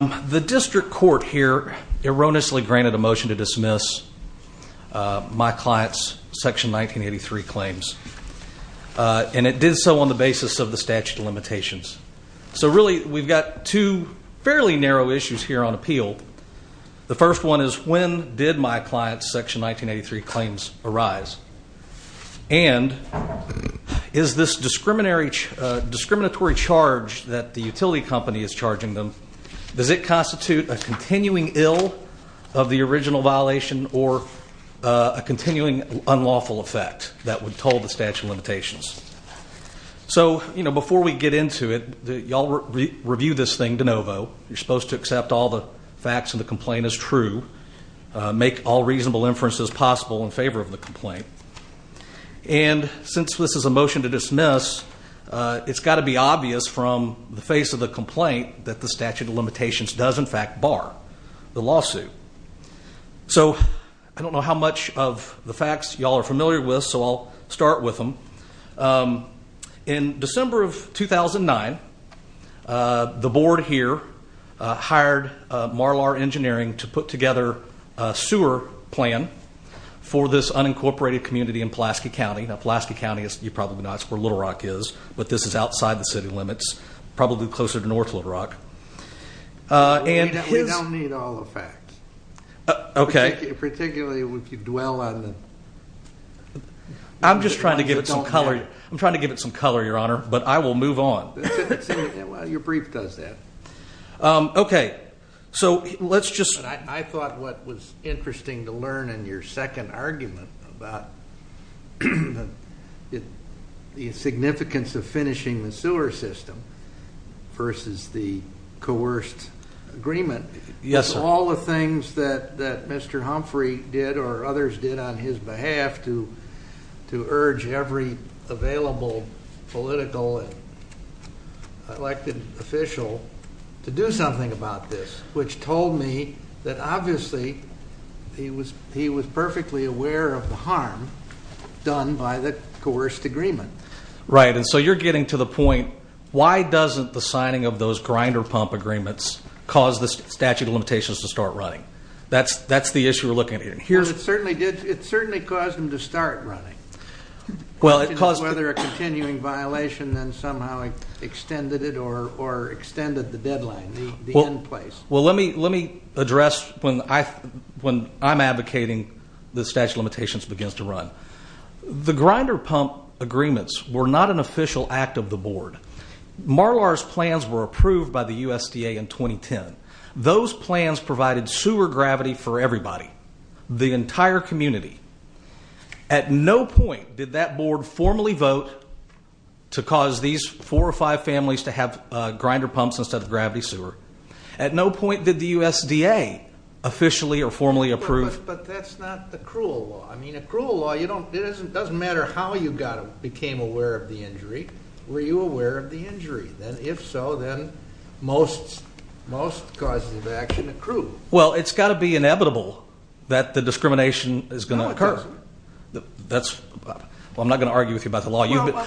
The District Court here erroneously granted a motion to dismiss my client's Section 1983 claims. And it did so on the basis of the statute of limitations. So really we've got two fairly narrow issues here on appeal. The first one is when did my client's Section 1983 claims arise? And is this discriminatory charge that the utility company is charging them, does it constitute a continuing ill of the original violation or a continuing unlawful effect that would toll the statute of limitations? So before we get into it, y'all review this thing de novo. You're supposed to accept all the facts and the complaint as true. Make all reasonable inferences possible in favor of the complaint. And since this is a motion to dismiss, it's got to be obvious from the face of the complaint that the statute of limitations does in fact bar the lawsuit. So I don't know how much of the facts y'all are familiar with, so I'll start with them. In December of 2009, the board here hired Marlar Engineering to put together a sewer plan for this unincorporated community in Pulaski County. Now, Pulaski County, you probably know that's where Little Rock is, but this is outside the city limits, probably closer to north Little Rock. We don't need all the facts. Okay. Particularly if you dwell on the... I'm just trying to give it some color. I'm trying to give it some color, Your Honor, but I will move on. Your brief does that. Okay. So let's just... I thought what was interesting to learn in your second argument about the significance of finishing the sewer system versus the coerced agreement... Yes, sir. ...of all the things that Mr. Humphrey did or others did on his behalf to urge every available political elected official to do something about this, which told me that obviously he was perfectly aware of the harm done by the coerced agreement. Right. And so you're getting to the point, why doesn't the signing of those grinder pump agreements cause the statute of limitations to start running? That's the issue we're looking at here. It certainly caused them to start running. Well, it caused... Whether a continuing violation then somehow extended it or extended the deadline, the end place. Well, let me address when I'm advocating the statute of limitations begins to run. The grinder pump agreements were not an official act of the board. Marlar's plans were approved by the USDA in 2010. Those plans provided sewer gravity for everybody, the entire community. At no point did that board formally vote to cause these four or five families to have grinder pumps instead of gravity sewer. At no point did the USDA officially or formally approve... But that's not the cruel law. I mean, a cruel law, it doesn't matter how you became aware of the injury. Were you aware of the injury? If so, then most causes of action accrue. Well, it's got to be inevitable that the discrimination is going to occur. Well, it doesn't. I'm not going to argue with you about the law.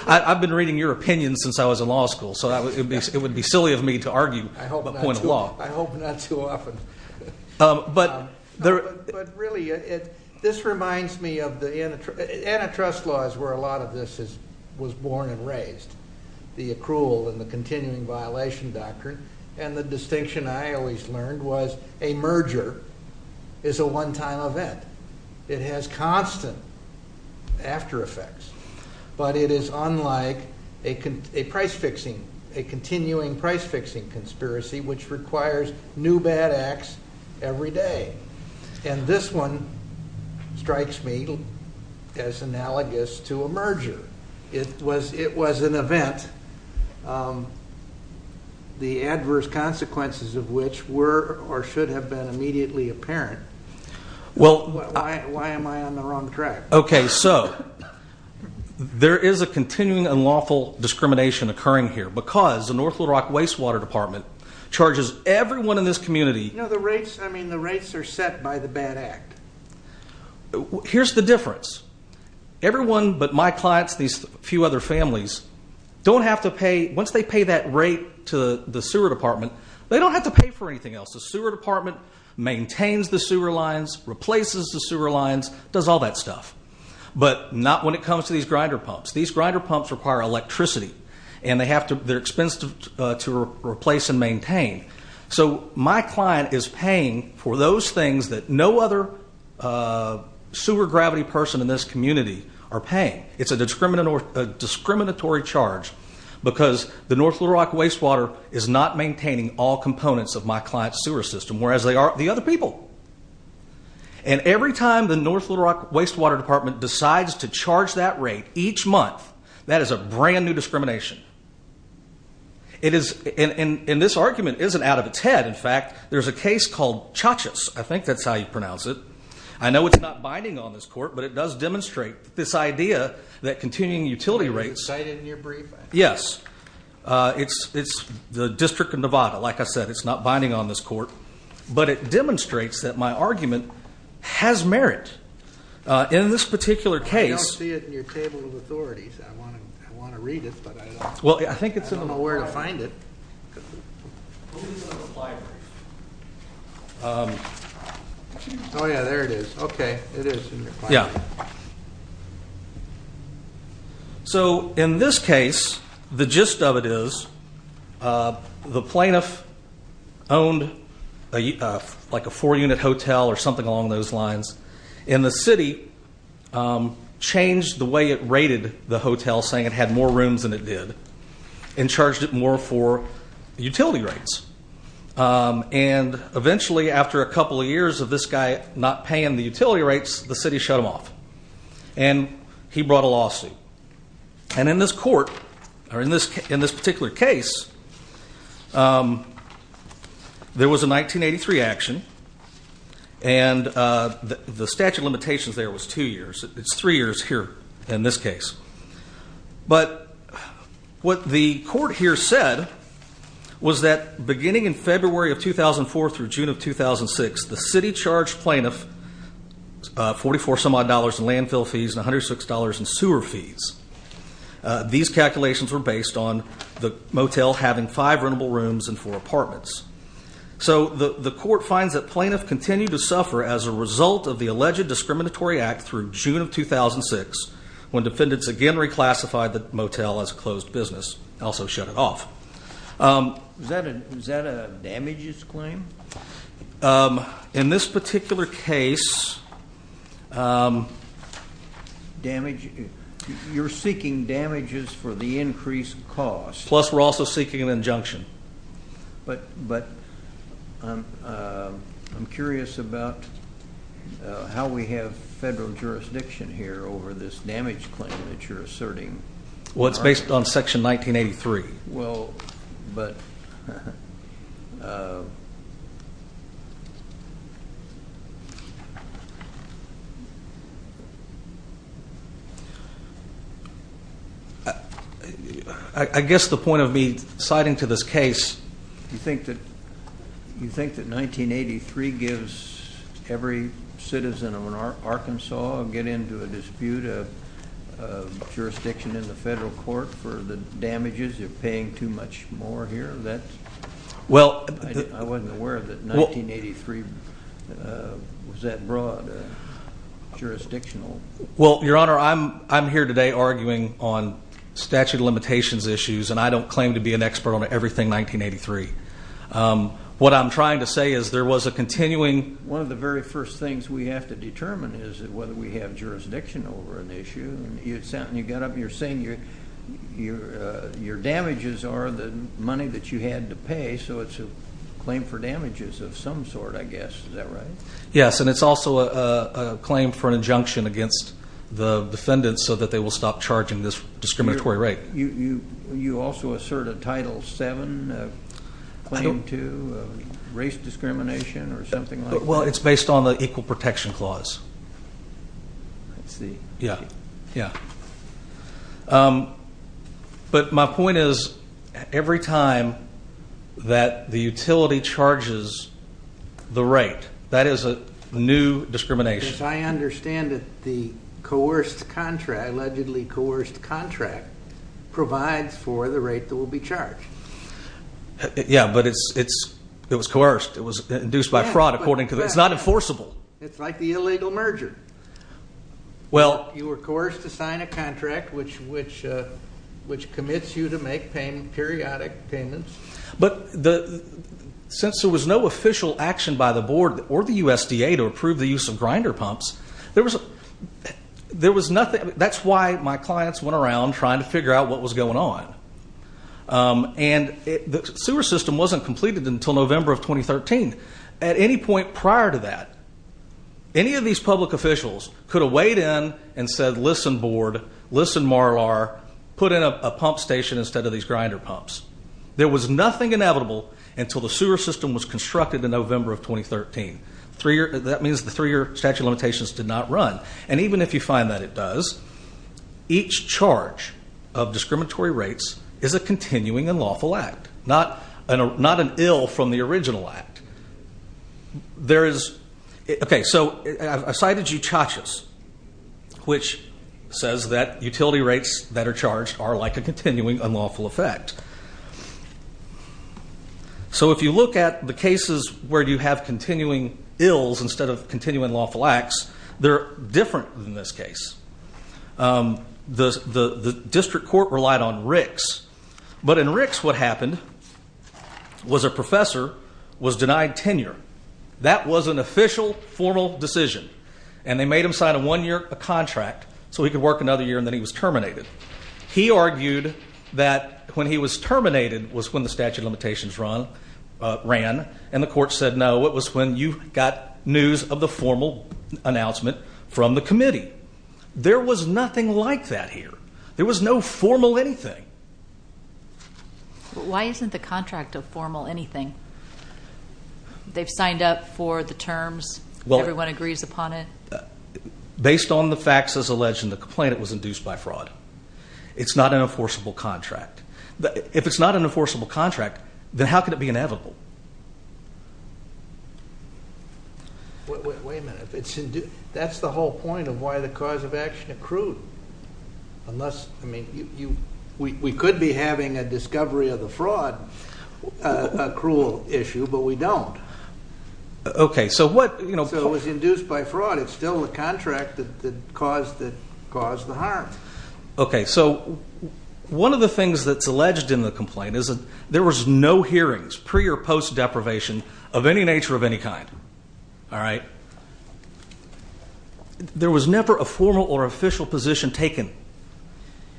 I've been reading your opinion since I was in law school, so it would be silly of me to argue the point of law. I hope not too often. But really, this reminds me of the antitrust laws where a lot of this was born and raised. The accrual and the continuing violation doctrine. And the distinction I always learned was a merger is a one-time event. It has constant after effects. But it is unlike a price-fixing, a continuing price-fixing conspiracy which requires new bad acts every day. And this one strikes me as analogous to a merger. It was an event, the adverse consequences of which were or should have been immediately apparent. Why am I on the wrong track? Okay, so there is a continuing unlawful discrimination occurring here because the North Little Rock Wastewater Department charges everyone in this community. No, the rates are set by the bad act. Here's the difference. Everyone but my clients, these few other families, don't have to pay. Once they pay that rate to the sewer department, they don't have to pay for anything else. The sewer department maintains the sewer lines, replaces the sewer lines, does all that stuff. But not when it comes to these grinder pumps. These grinder pumps require electricity. And they're expensive to replace and maintain. So my client is paying for those things that no other sewer gravity person in this community are paying. It's a discriminatory charge because the North Little Rock Wastewater is not maintaining all components of my client's sewer system, whereas they are the other people. And every time the North Little Rock Wastewater Department decides to charge that rate each month, that is a brand new discrimination. And this argument isn't out of its head. In fact, there's a case called Chachas. I think that's how you pronounce it. I know it's not binding on this court, but it does demonstrate this idea that continuing utility rates. Is it cited in your brief? Yes. It's the District of Nevada. Like I said, it's not binding on this court. But it demonstrates that my argument has merit. In this particular case. I don't see it in your table of authorities. I want to read it, but I don't know where to find it. It's on the flyer. Oh, yeah. There it is. Okay. It is. Yeah. So, in this case, the gist of it is the plaintiff owned like a four-unit hotel or something along those lines. And the city changed the way it rated the hotel, saying it had more rooms than it did. And charged it more for utility rates. And eventually, after a couple of years of this guy not paying the utility rates, the city shut him off. And he brought a lawsuit. And in this court, or in this particular case, there was a 1983 action. And the statute of limitations there was two years. It's three years here in this case. But what the court here said was that beginning in February of 2004 through June of 2006, the city charged plaintiff 44-some-odd dollars in landfill fees and $106 in sewer fees. These calculations were based on the motel having five rentable rooms and four apartments. So, the court finds that plaintiff continued to suffer as a result of the alleged discriminatory act through June of 2006, when defendants again reclassified the motel as a closed business and also shut it off. Is that a damages claim? In this particular case. You're seeking damages for the increased cost. Plus, we're also seeking an injunction. But I'm curious about how we have federal jurisdiction here over this damage claim that you're asserting. Well, it's based on Section 1983. Well, but... I guess the point of me citing to this case, you think that 1983 gives every citizen of Arkansas and get into a dispute of jurisdiction in the federal court for the damages? You're paying too much more here? I wasn't aware that 1983 was that broad jurisdictional. Well, Your Honor, I'm here today arguing on statute of limitations issues, and I don't claim to be an expert on everything 1983. What I'm trying to say is there was a continuing... that we have jurisdiction over an issue. You're saying your damages are the money that you had to pay, so it's a claim for damages of some sort, I guess. Is that right? Yes, and it's also a claim for an injunction against the defendants so that they will stop charging this discriminatory rate. You also assert a Title VII claim to race discrimination or something like that? Well, it's based on the Equal Protection Clause. I see. Yeah, yeah. But my point is every time that the utility charges the rate, that is a new discrimination. Yes, I understand that the coerced contract, allegedly coerced contract, provides for the rate that will be charged. Yeah, but it was coerced. It was induced by fraud, according to the... It's not enforceable. It's like the illegal merger. Well... You were coerced to sign a contract which commits you to make periodic payments. But since there was no official action by the board or the USDA to approve the use of grinder pumps, there was nothing... That's why my clients went around trying to figure out what was going on. And the sewer system wasn't completed until November of 2013. At any point prior to that, any of these public officials could have weighed in and said, listen, board, listen, MARLAR, put in a pump station instead of these grinder pumps. There was nothing inevitable until the sewer system was constructed in November of 2013. That means the three-year statute of limitations did not run. And even if you find that it does, each charge of discriminatory rates is a continuing unlawful act, not an ill from the original act. There is... Okay, so I cited UCHACHAS, which says that utility rates that are charged are like a continuing unlawful effect. So if you look at the cases where you have continuing ills instead of continuing lawful acts, they're different than this case. The district court relied on RICS. But in RICS, what happened was a professor was denied tenure. That was an official, formal decision. And they made him sign a one-year contract so he could work another year, and then he was terminated. He argued that when he was terminated was when the statute of limitations ran, and the court said no, it was when you got news of the formal announcement from the committee. There was nothing like that here. There was no formal anything. Why isn't the contract a formal anything? They've signed up for the terms. Everyone agrees upon it. Based on the facts as alleged in the complaint, it was induced by fraud. It's not an enforceable contract. If it's not an enforceable contract, then how could it be inevitable? Wait a minute. That's the whole point of why the cause of action accrued. We could be having a discovery of the fraud accrual issue, but we don't. So it was induced by fraud. It's still the contract that caused the harm. One of the things that's alleged in the complaint is that there was no hearings, pre- or post-deprivation of any nature of any kind. There was never a formal or official position taken.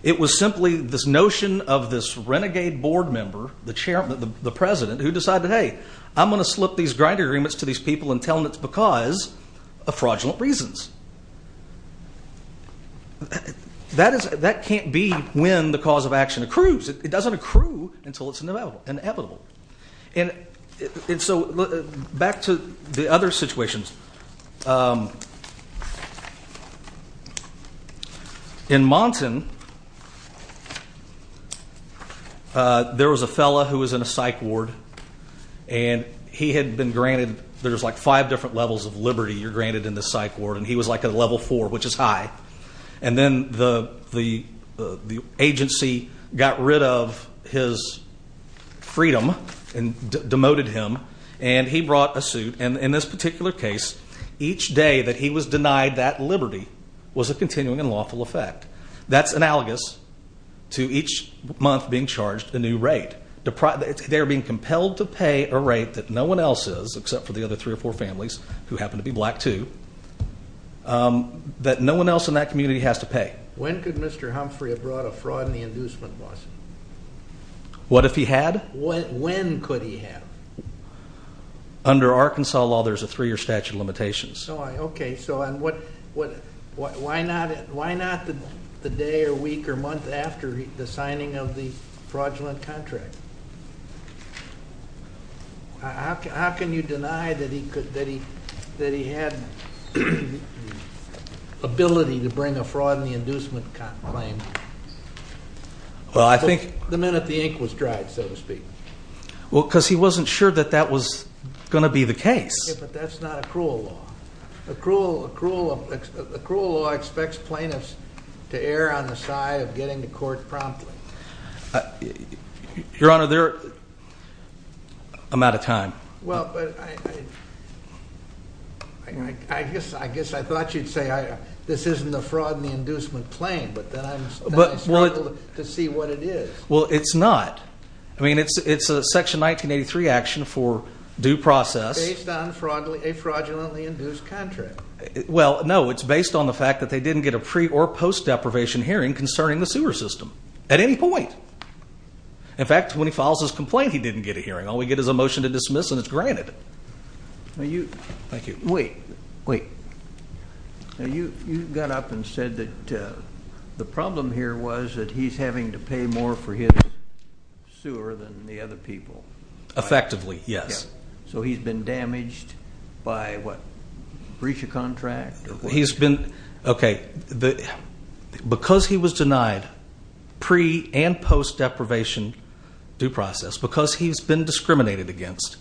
It was simply this notion of this renegade board member, the president, who decided, hey, I'm going to slip these grant agreements to these people and tell them it's because of fraudulent reasons. That can't be when the cause of action accrues. It doesn't accrue until it's inevitable. Back to the other situations. In Monton, there was a fellow who was in a psych ward. There's five different levels of liberty you're granted in the psych ward, and he was at level four, which is high. And then the agency got rid of his freedom and demoted him, and he brought a suit. And in this particular case, each day that he was denied that liberty was a continuing and lawful effect. That's analogous to each month being charged a new rate. They're being compelled to pay a rate that no one else is, except for the other three or four families who happen to be black, too, that no one else in that community has to pay. When could Mr. Humphrey have brought a fraud in the inducement lawsuit? What if he had? When could he have? Under Arkansas law, there's a three-year statute of limitations. Okay, so why not the day or week or month after the signing of the fraudulent contract? How can you deny that he had the ability to bring a fraud in the inducement claim? The minute the ink was dried, so to speak. Well, because he wasn't sure that that was going to be the case. Yeah, but that's not accrual law. Accrual law expects plaintiffs to err on the side of getting to court promptly. Your Honor, I'm out of time. Well, I guess I thought you'd say this isn't a fraud in the inducement claim, but then I struggled to see what it is. Well, it's not. I mean, it's a Section 1983 action for due process. Based on a fraudulently induced contract. Well, no. It's based on the fact that they didn't get a pre- or post-deprivation hearing concerning the sewer system at any point. In fact, when he files his complaint, he didn't get a hearing. All we get is a motion to dismiss, and it's granted. Thank you. Wait, wait. You got up and said that the problem here was that he's having to pay more for his sewer than the other people. Effectively, yes. So he's been damaged by what, breach of contract? Okay. Because he was denied pre- and post-deprivation due process, because he's been discriminated against,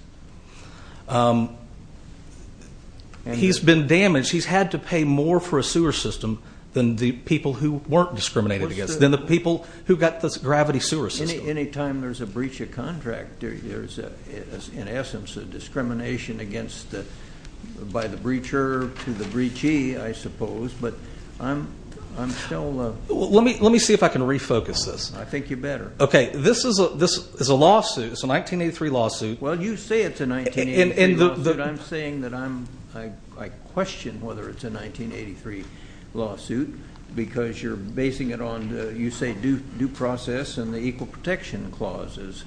he's been damaged. He's had to pay more for a sewer system than the people who weren't discriminated against, than the people who got the gravity sewer system. Any time there's a breach of contract, there's, in essence, a discrimination by the breacher to the breachee, I suppose. But I'm still. Let me see if I can refocus this. I think you better. Okay. This is a lawsuit. It's a 1983 lawsuit. Well, you say it's a 1983 lawsuit. I'm saying that I question whether it's a 1983 lawsuit because you're basing it on, you say, due process and the equal protection clauses.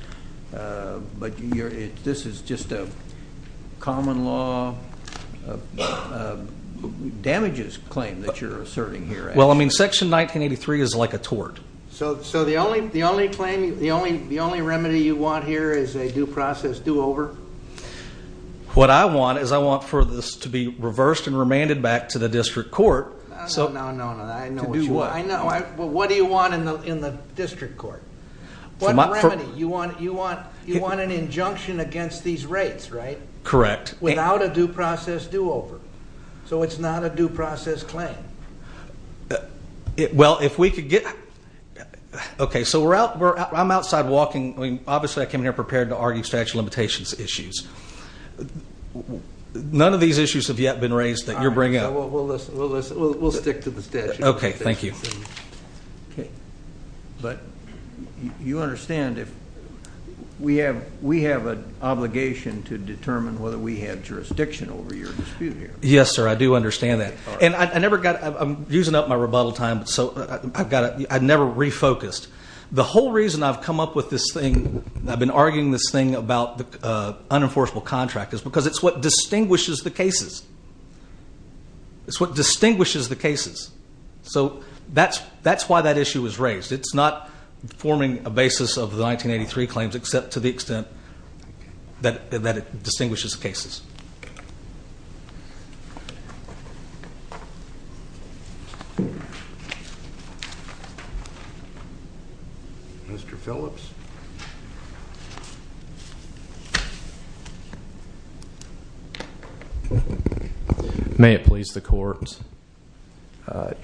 But this is just a common law damages claim that you're asserting here. Well, I mean, Section 1983 is like a tort. So the only claim, the only remedy you want here is a due process do-over? What I want is I want for this to be reversed and remanded back to the district court. No, no, no. I know what you want. I know. What do you want in the district court? What remedy? You want an injunction against these rates, right? Correct. Without a due process do-over. So it's not a due process claim. Well, if we could get... Okay. So I'm outside walking. Obviously, I came here prepared to argue statute of limitations issues. None of these issues have yet been raised that you're bringing up. We'll stick to the statute of limitations. Okay. Thank you. Okay. But you understand if we have an obligation to determine whether we have jurisdiction over your dispute here. Yes, sir. I do understand that. And I never got... I'm using up my rebuttal time. So I never refocused. The whole reason I've come up with this thing, I've been arguing this thing about the unenforceable contract, It's what distinguishes the cases. So that's why that issue was raised. It's not forming a basis of the 1983 claims except to the extent that it distinguishes the cases. Mr. Phillips. May it please the Court.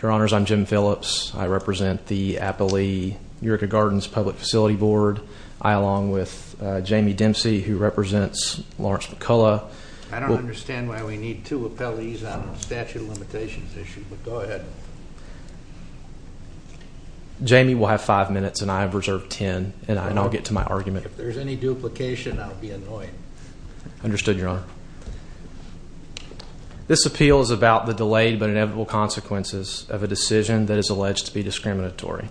Your Honors, I'm Jim Phillips. I represent the Applee-Eureka Gardens Public Facility Board. I, along with Jamie Dempsey, who represents Lawrence McCullough. I don't understand why we need two appellees on a statute of limitations issue. But go ahead. Jamie will have five minutes, and I have reserved ten. And as a matter of fact, I have five minutes. And I'll get to my argument. If there's any duplication, I'll be annoyed. Understood, Your Honor. This appeal is about the delayed but inevitable consequences of a decision that is alleged to be discriminatory.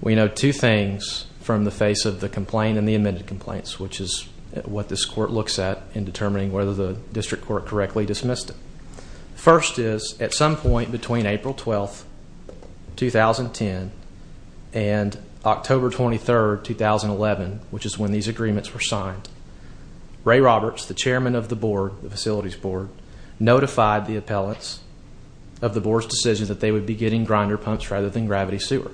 We know two things from the face of the complaint and the amended complaints, which is what this court looks at in determining whether the district court correctly dismissed it. First is, at some point between April 12, 2010, and October 23, 2011, which is when these agreements were signed, Ray Roberts, the chairman of the board, the facilities board, notified the appellants of the board's decision that they would be getting grinder pumps rather than gravity sewer.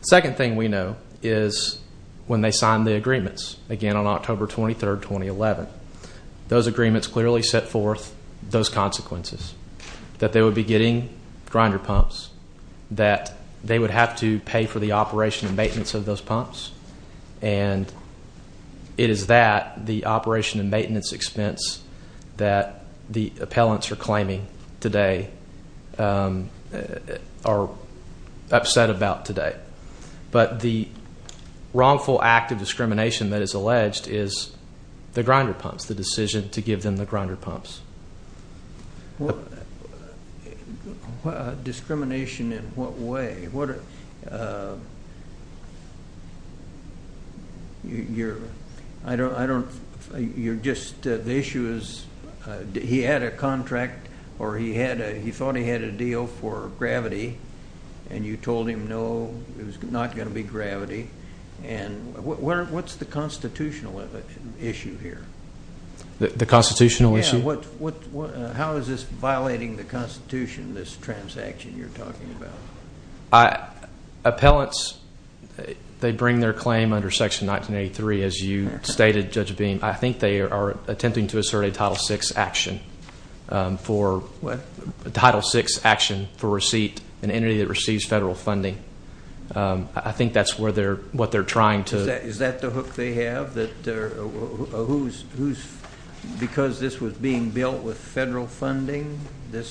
The second thing we know is when they signed the agreements, again on October 23, 2011. Those agreements clearly set forth those consequences, that they would be getting grinder pumps, that they would have to pay for the operation and maintenance of those pumps, and it is that, the operation and maintenance expense, that the appellants are claiming today are upset about today. But the wrongful act of discrimination that is alleged is the grinder pumps, the decision to give them the grinder pumps. Discrimination in what way? The issue is he had a contract, or he thought he had a deal for gravity, and you told him no, it was not going to be gravity. What is the constitutional issue here? The constitutional issue? How is this violating the Constitution, this transaction you are talking about? Appellants, they bring their claim under Section 1983, as you stated, Judge Beam. I think they are attempting to assert a Title VI action for receipt, an entity that receives federal funding. I think that is what they are trying to. Is that the hook they have? Because this was being built with federal funding, this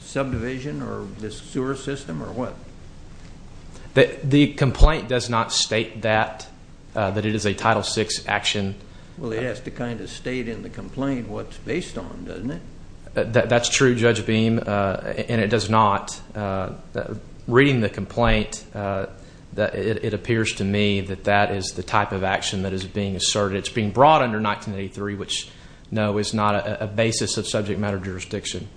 subdivision or this sewer system or what? The complaint does not state that, that it is a Title VI action. Well, it has to kind of state in the complaint what it is based on, doesn't it? That is true, Judge Beam, and it does not. Reading the complaint, it appears to me that that is the type of action that is being asserted. It is being brought under 1983, which, no, is not a basis of subject matter jurisdiction.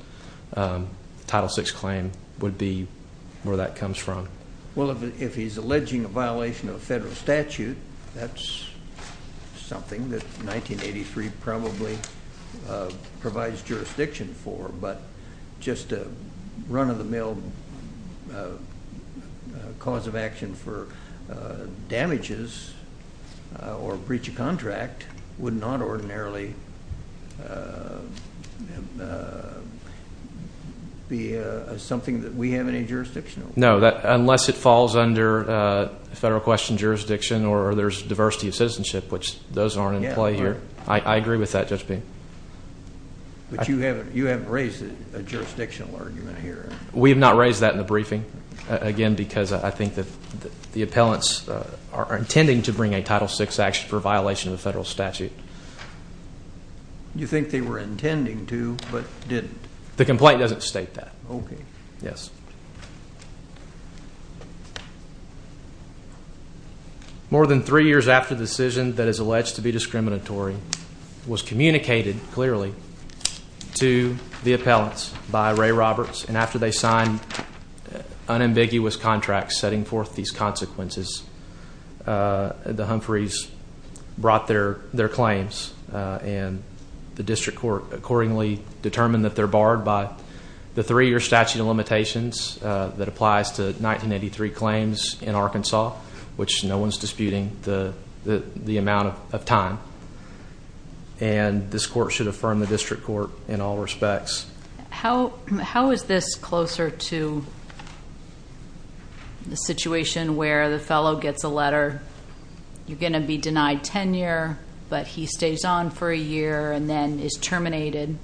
Title VI claim would be where that comes from. Well, if he is alleging a violation of a federal statute, that is something that 1983 probably provides jurisdiction for, but just a run-of-the-mill cause of action for damages or breach of contract would not ordinarily be something that we have any jurisdiction over. No, unless it falls under federal question jurisdiction or there is diversity of citizenship, which those are not in play here. I agree with that, Judge Beam. But you have not raised a jurisdictional argument here. We have not raised that in the briefing. Again, because I think the appellants are intending to bring a Title VI action for violation of a federal statute. You think they were intending to, but did not? The complaint does not state that. Okay. Yes. More than three years after the decision that is alleged to be discriminatory was communicated clearly to the appellants by Ray Roberts, and after they signed unambiguous contracts setting forth these consequences, the Humphreys brought their claims, and the district court accordingly determined that they're barred by the three-year statute of limitations that applies to 1983 claims in Arkansas, which no one's disputing the amount of time. And this court should affirm the district court in all respects. How is this closer to the situation where the fellow gets a letter, you're going to be denied tenure, but he stays on for a year and then is terminated?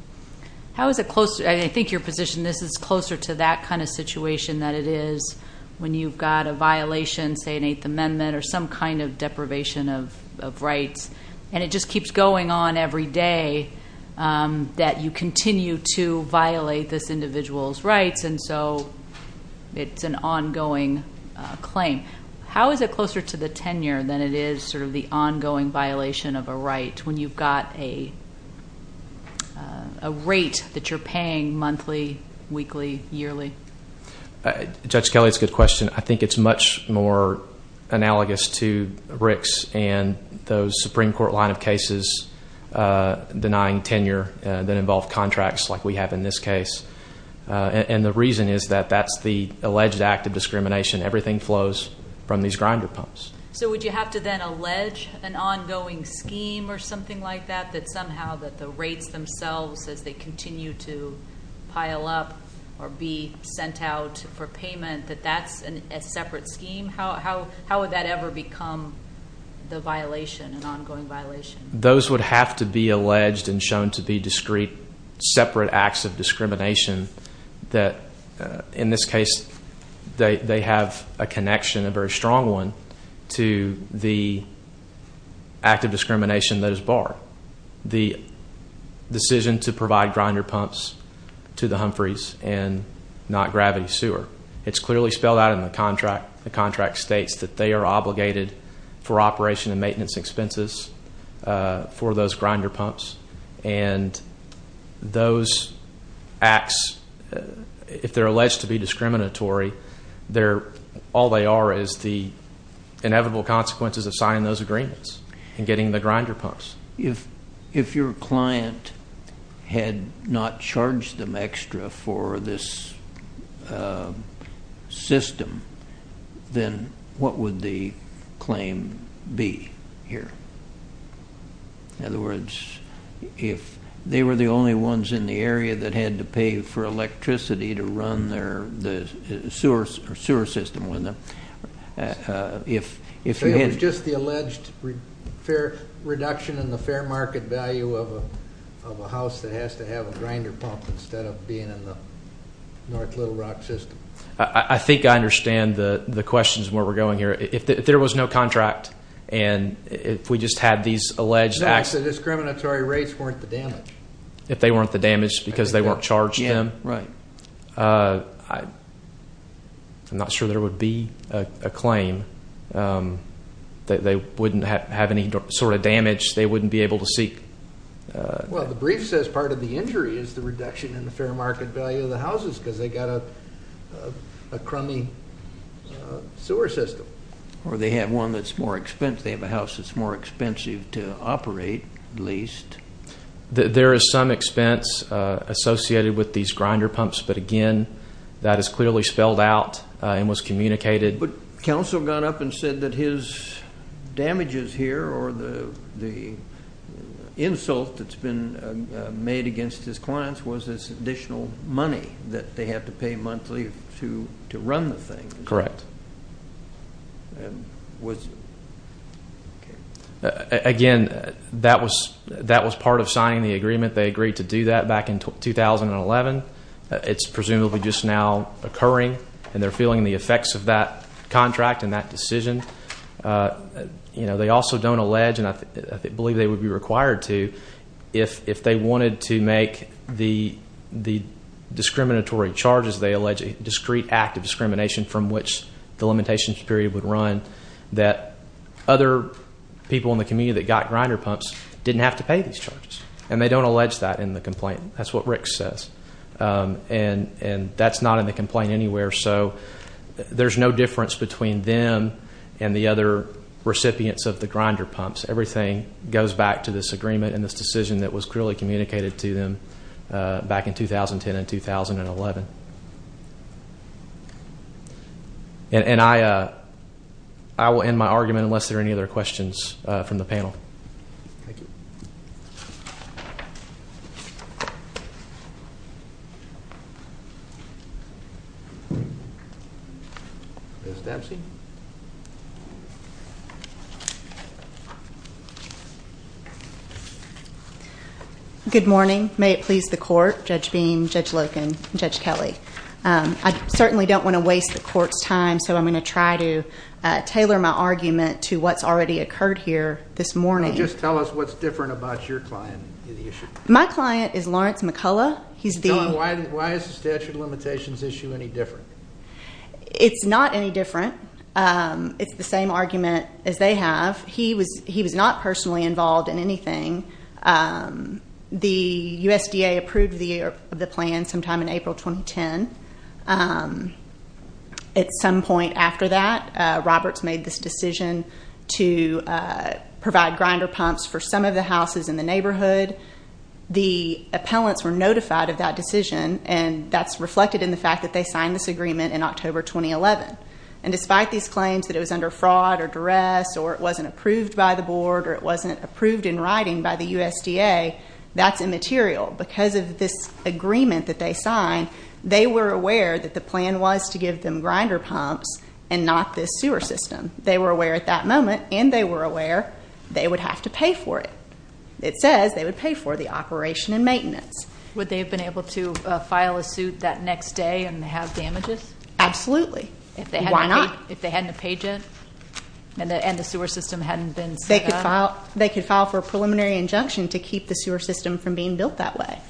How is it closer? I think your position is this is closer to that kind of situation than it is when you've got a violation, say an Eighth Amendment, or some kind of deprivation of rights, and it just keeps going on every day that you continue to violate this individual's rights, and so it's an ongoing claim. How is it closer to the tenure than it is sort of the ongoing violation of a right when you've got a rate that you're paying monthly, weekly, yearly? Judge Kelly, it's a good question. I think it's much more analogous to Rick's and those Supreme Court line of cases denying tenure that involve contracts like we have in this case, and the reason is that that's the alleged act of discrimination. Everything flows from these grinder pumps. So would you have to then allege an ongoing scheme or something like that, that somehow the rates themselves, as they continue to pile up or be sent out for payment, that that's a separate scheme? How would that ever become the violation, an ongoing violation? Those would have to be alleged and shown to be discrete separate acts of discrimination that, in this case, they have a connection, a very strong one, to the act of discrimination that is barred, the decision to provide grinder pumps to the Humphreys and not Gravity Sewer. It's clearly spelled out in the contract. The contract states that they are obligated for operation and maintenance expenses for those grinder pumps, and those acts, if they're alleged to be discriminatory, all they are is the inevitable consequences of signing those agreements and getting the grinder pumps. If your client had not charged them extra for this system, then what would the claim be here? In other words, if they were the only ones in the area that had to pay for electricity to run their sewer system, So it was just the alleged fair reduction in the fair market value of a house that has to have a grinder pump instead of being in the North Little Rock system. I think I understand the questions and where we're going here. If there was no contract and if we just had these alleged acts. If the discriminatory rates weren't the damage. If they weren't the damage because they weren't charged them. Yeah, right. I'm not sure there would be a claim. They wouldn't have any sort of damage. They wouldn't be able to seek. Well, the brief says part of the injury is the reduction in the fair market value of the houses because they got a crummy sewer system. Or they have one that's more expensive. They have a house that's more expensive to operate, at least. There is some expense associated with these grinder pumps, but again, that is clearly spelled out and was communicated. But counsel got up and said that his damages here or the insult that's been made against his clients was this additional money that they have to pay monthly to run the thing. Correct. Again, that was part of signing the agreement. They agreed to do that back in 2011. It's presumably just now occurring, and they're feeling the effects of that contract and that decision. They also don't allege, and I believe they would be required to, if they wanted to make the discriminatory charges, they allege a discrete act of discrimination from which the limitations period would run, that other people in the community that got grinder pumps didn't have to pay these charges. And they don't allege that in the complaint. That's what Rick says. And that's not in the complaint anywhere. So there's no difference between them and the other recipients of the grinder pumps. Everything goes back to this agreement and this decision that was clearly communicated to them back in 2010 and 2011. And I will end my argument unless there are any other questions from the panel. Thank you. Good morning. May it please the Court, Judge Bean, Judge Loken, and Judge Kelly. I certainly don't want to waste the Court's time, so I'm going to try to tailor my argument to what's already occurred here this morning. Just tell us what's different about your client. My client is Lawrence McCullough. Why is the statute of limitations issue any different? It's not any different. It's the same argument as they have. He was not personally involved in anything. The USDA approved the plan sometime in April 2010. At some point after that, Roberts made this decision to provide grinder pumps for some of the houses in the neighborhood. The appellants were notified of that decision, and that's reflected in the fact that they signed this agreement in October 2011. And despite these claims that it was under fraud or duress or it wasn't approved by the board or it wasn't approved in writing by the USDA, that's immaterial. Because of this agreement that they signed, they were aware that the plan was to give them grinder pumps and not this sewer system. They were aware at that moment, and they were aware they would have to pay for it. It says they would pay for the operation and maintenance. Would they have been able to file a suit that next day and have damages? Absolutely. Why not? If they hadn't paid yet and the sewer system hadn't been set up? They could file for a preliminary injunction to keep the sewer system from being built that way.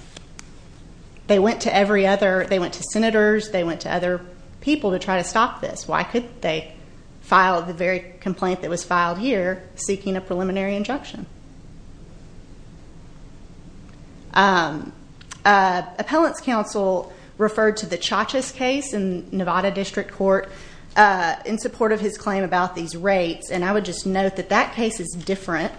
They went to senators. They went to other people to try to stop this. Why couldn't they file the very complaint that was filed here seeking a preliminary injunction? Appellant's counsel referred to the Chachas case in Nevada District Court in support of his claim about these rates. And I would just note that that case is different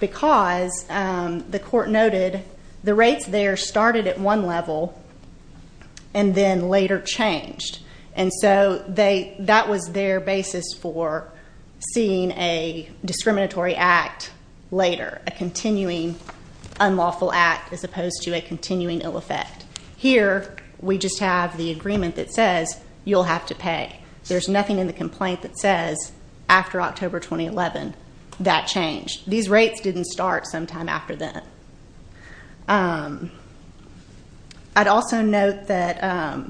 because the court noted the rates there started at one level and then later changed. And so that was their basis for seeing a discriminatory act later, a continuing unlawful act as opposed to a continuing ill effect. Here, we just have the agreement that says you'll have to pay. There's nothing in the complaint that says after October 2011 that changed. These rates didn't start sometime after that. I'd also note that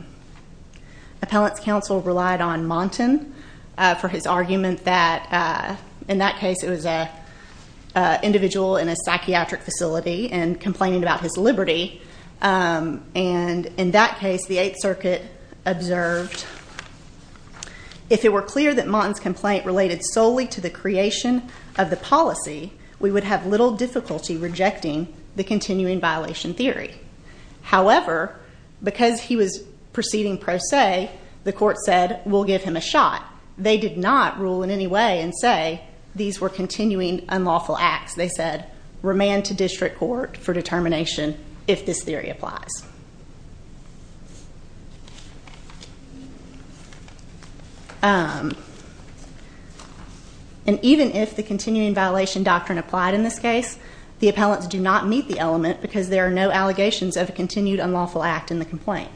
appellant's counsel relied on Montan for his argument that in that case it was an individual in a psychiatric facility and complaining about his liberty. And in that case, the Eighth Circuit observed, if it were clear that Montan's complaint related solely to the creation of the policy, we would have little difficulty rejecting the continuing violation theory. However, because he was proceeding pro se, the court said we'll give him a shot. They did not rule in any way and say these were continuing unlawful acts. They said remand to district court for determination if this theory applies. And even if the continuing violation doctrine applied in this case, the appellants do not meet the element because there are no allegations of a continued unlawful act in the complaint.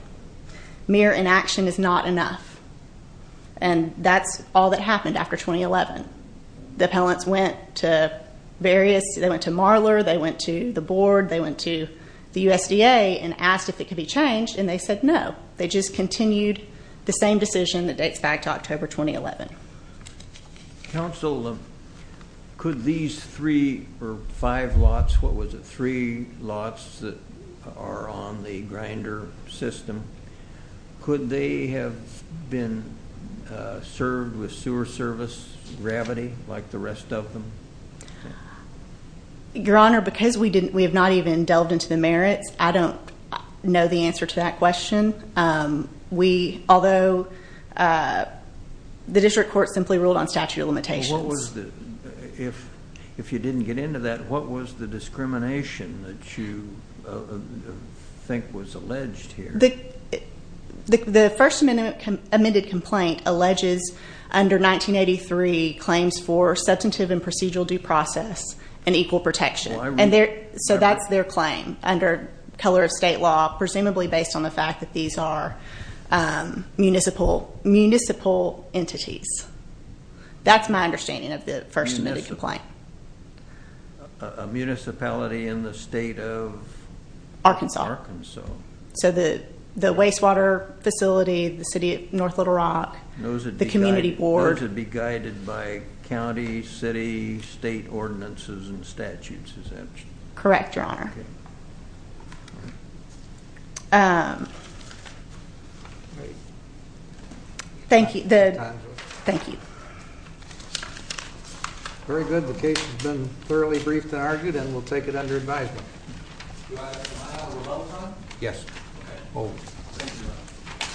Mere inaction is not enough. And that's all that happened after 2011. The appellants went to Marler, they went to the board, they went to the USDA and asked if it could be changed. And they said no. They just continued the same decision that dates back to October 2011. Counsel, could these three or five lots, what was it, three lots that are on the grinder system, could they have been served with sewer service gravity like the rest of them? Your Honor, because we have not even delved into the merits, I don't know the answer to that question. Although the district court simply ruled on statute of limitations. If you didn't get into that, what was the discrimination that you think was alleged here? The First Amendment-admitted complaint alleges under 1983 claims for substantive and procedural due process and equal protection. So that's their claim under color of state law, presumably based on the fact that these are municipal entities. That's my understanding of the First Amendment complaint. A municipality in the state of? Arkansas. Arkansas. So the wastewater facility, the city of North Little Rock, the community board. Or to be guided by county, city, state ordinances and statutes, is that? Correct, Your Honor. Thank you. Very good. The case has been thoroughly briefed and argued and we'll take it under advisement. Do I have a file to revoke on? Yes. Okay.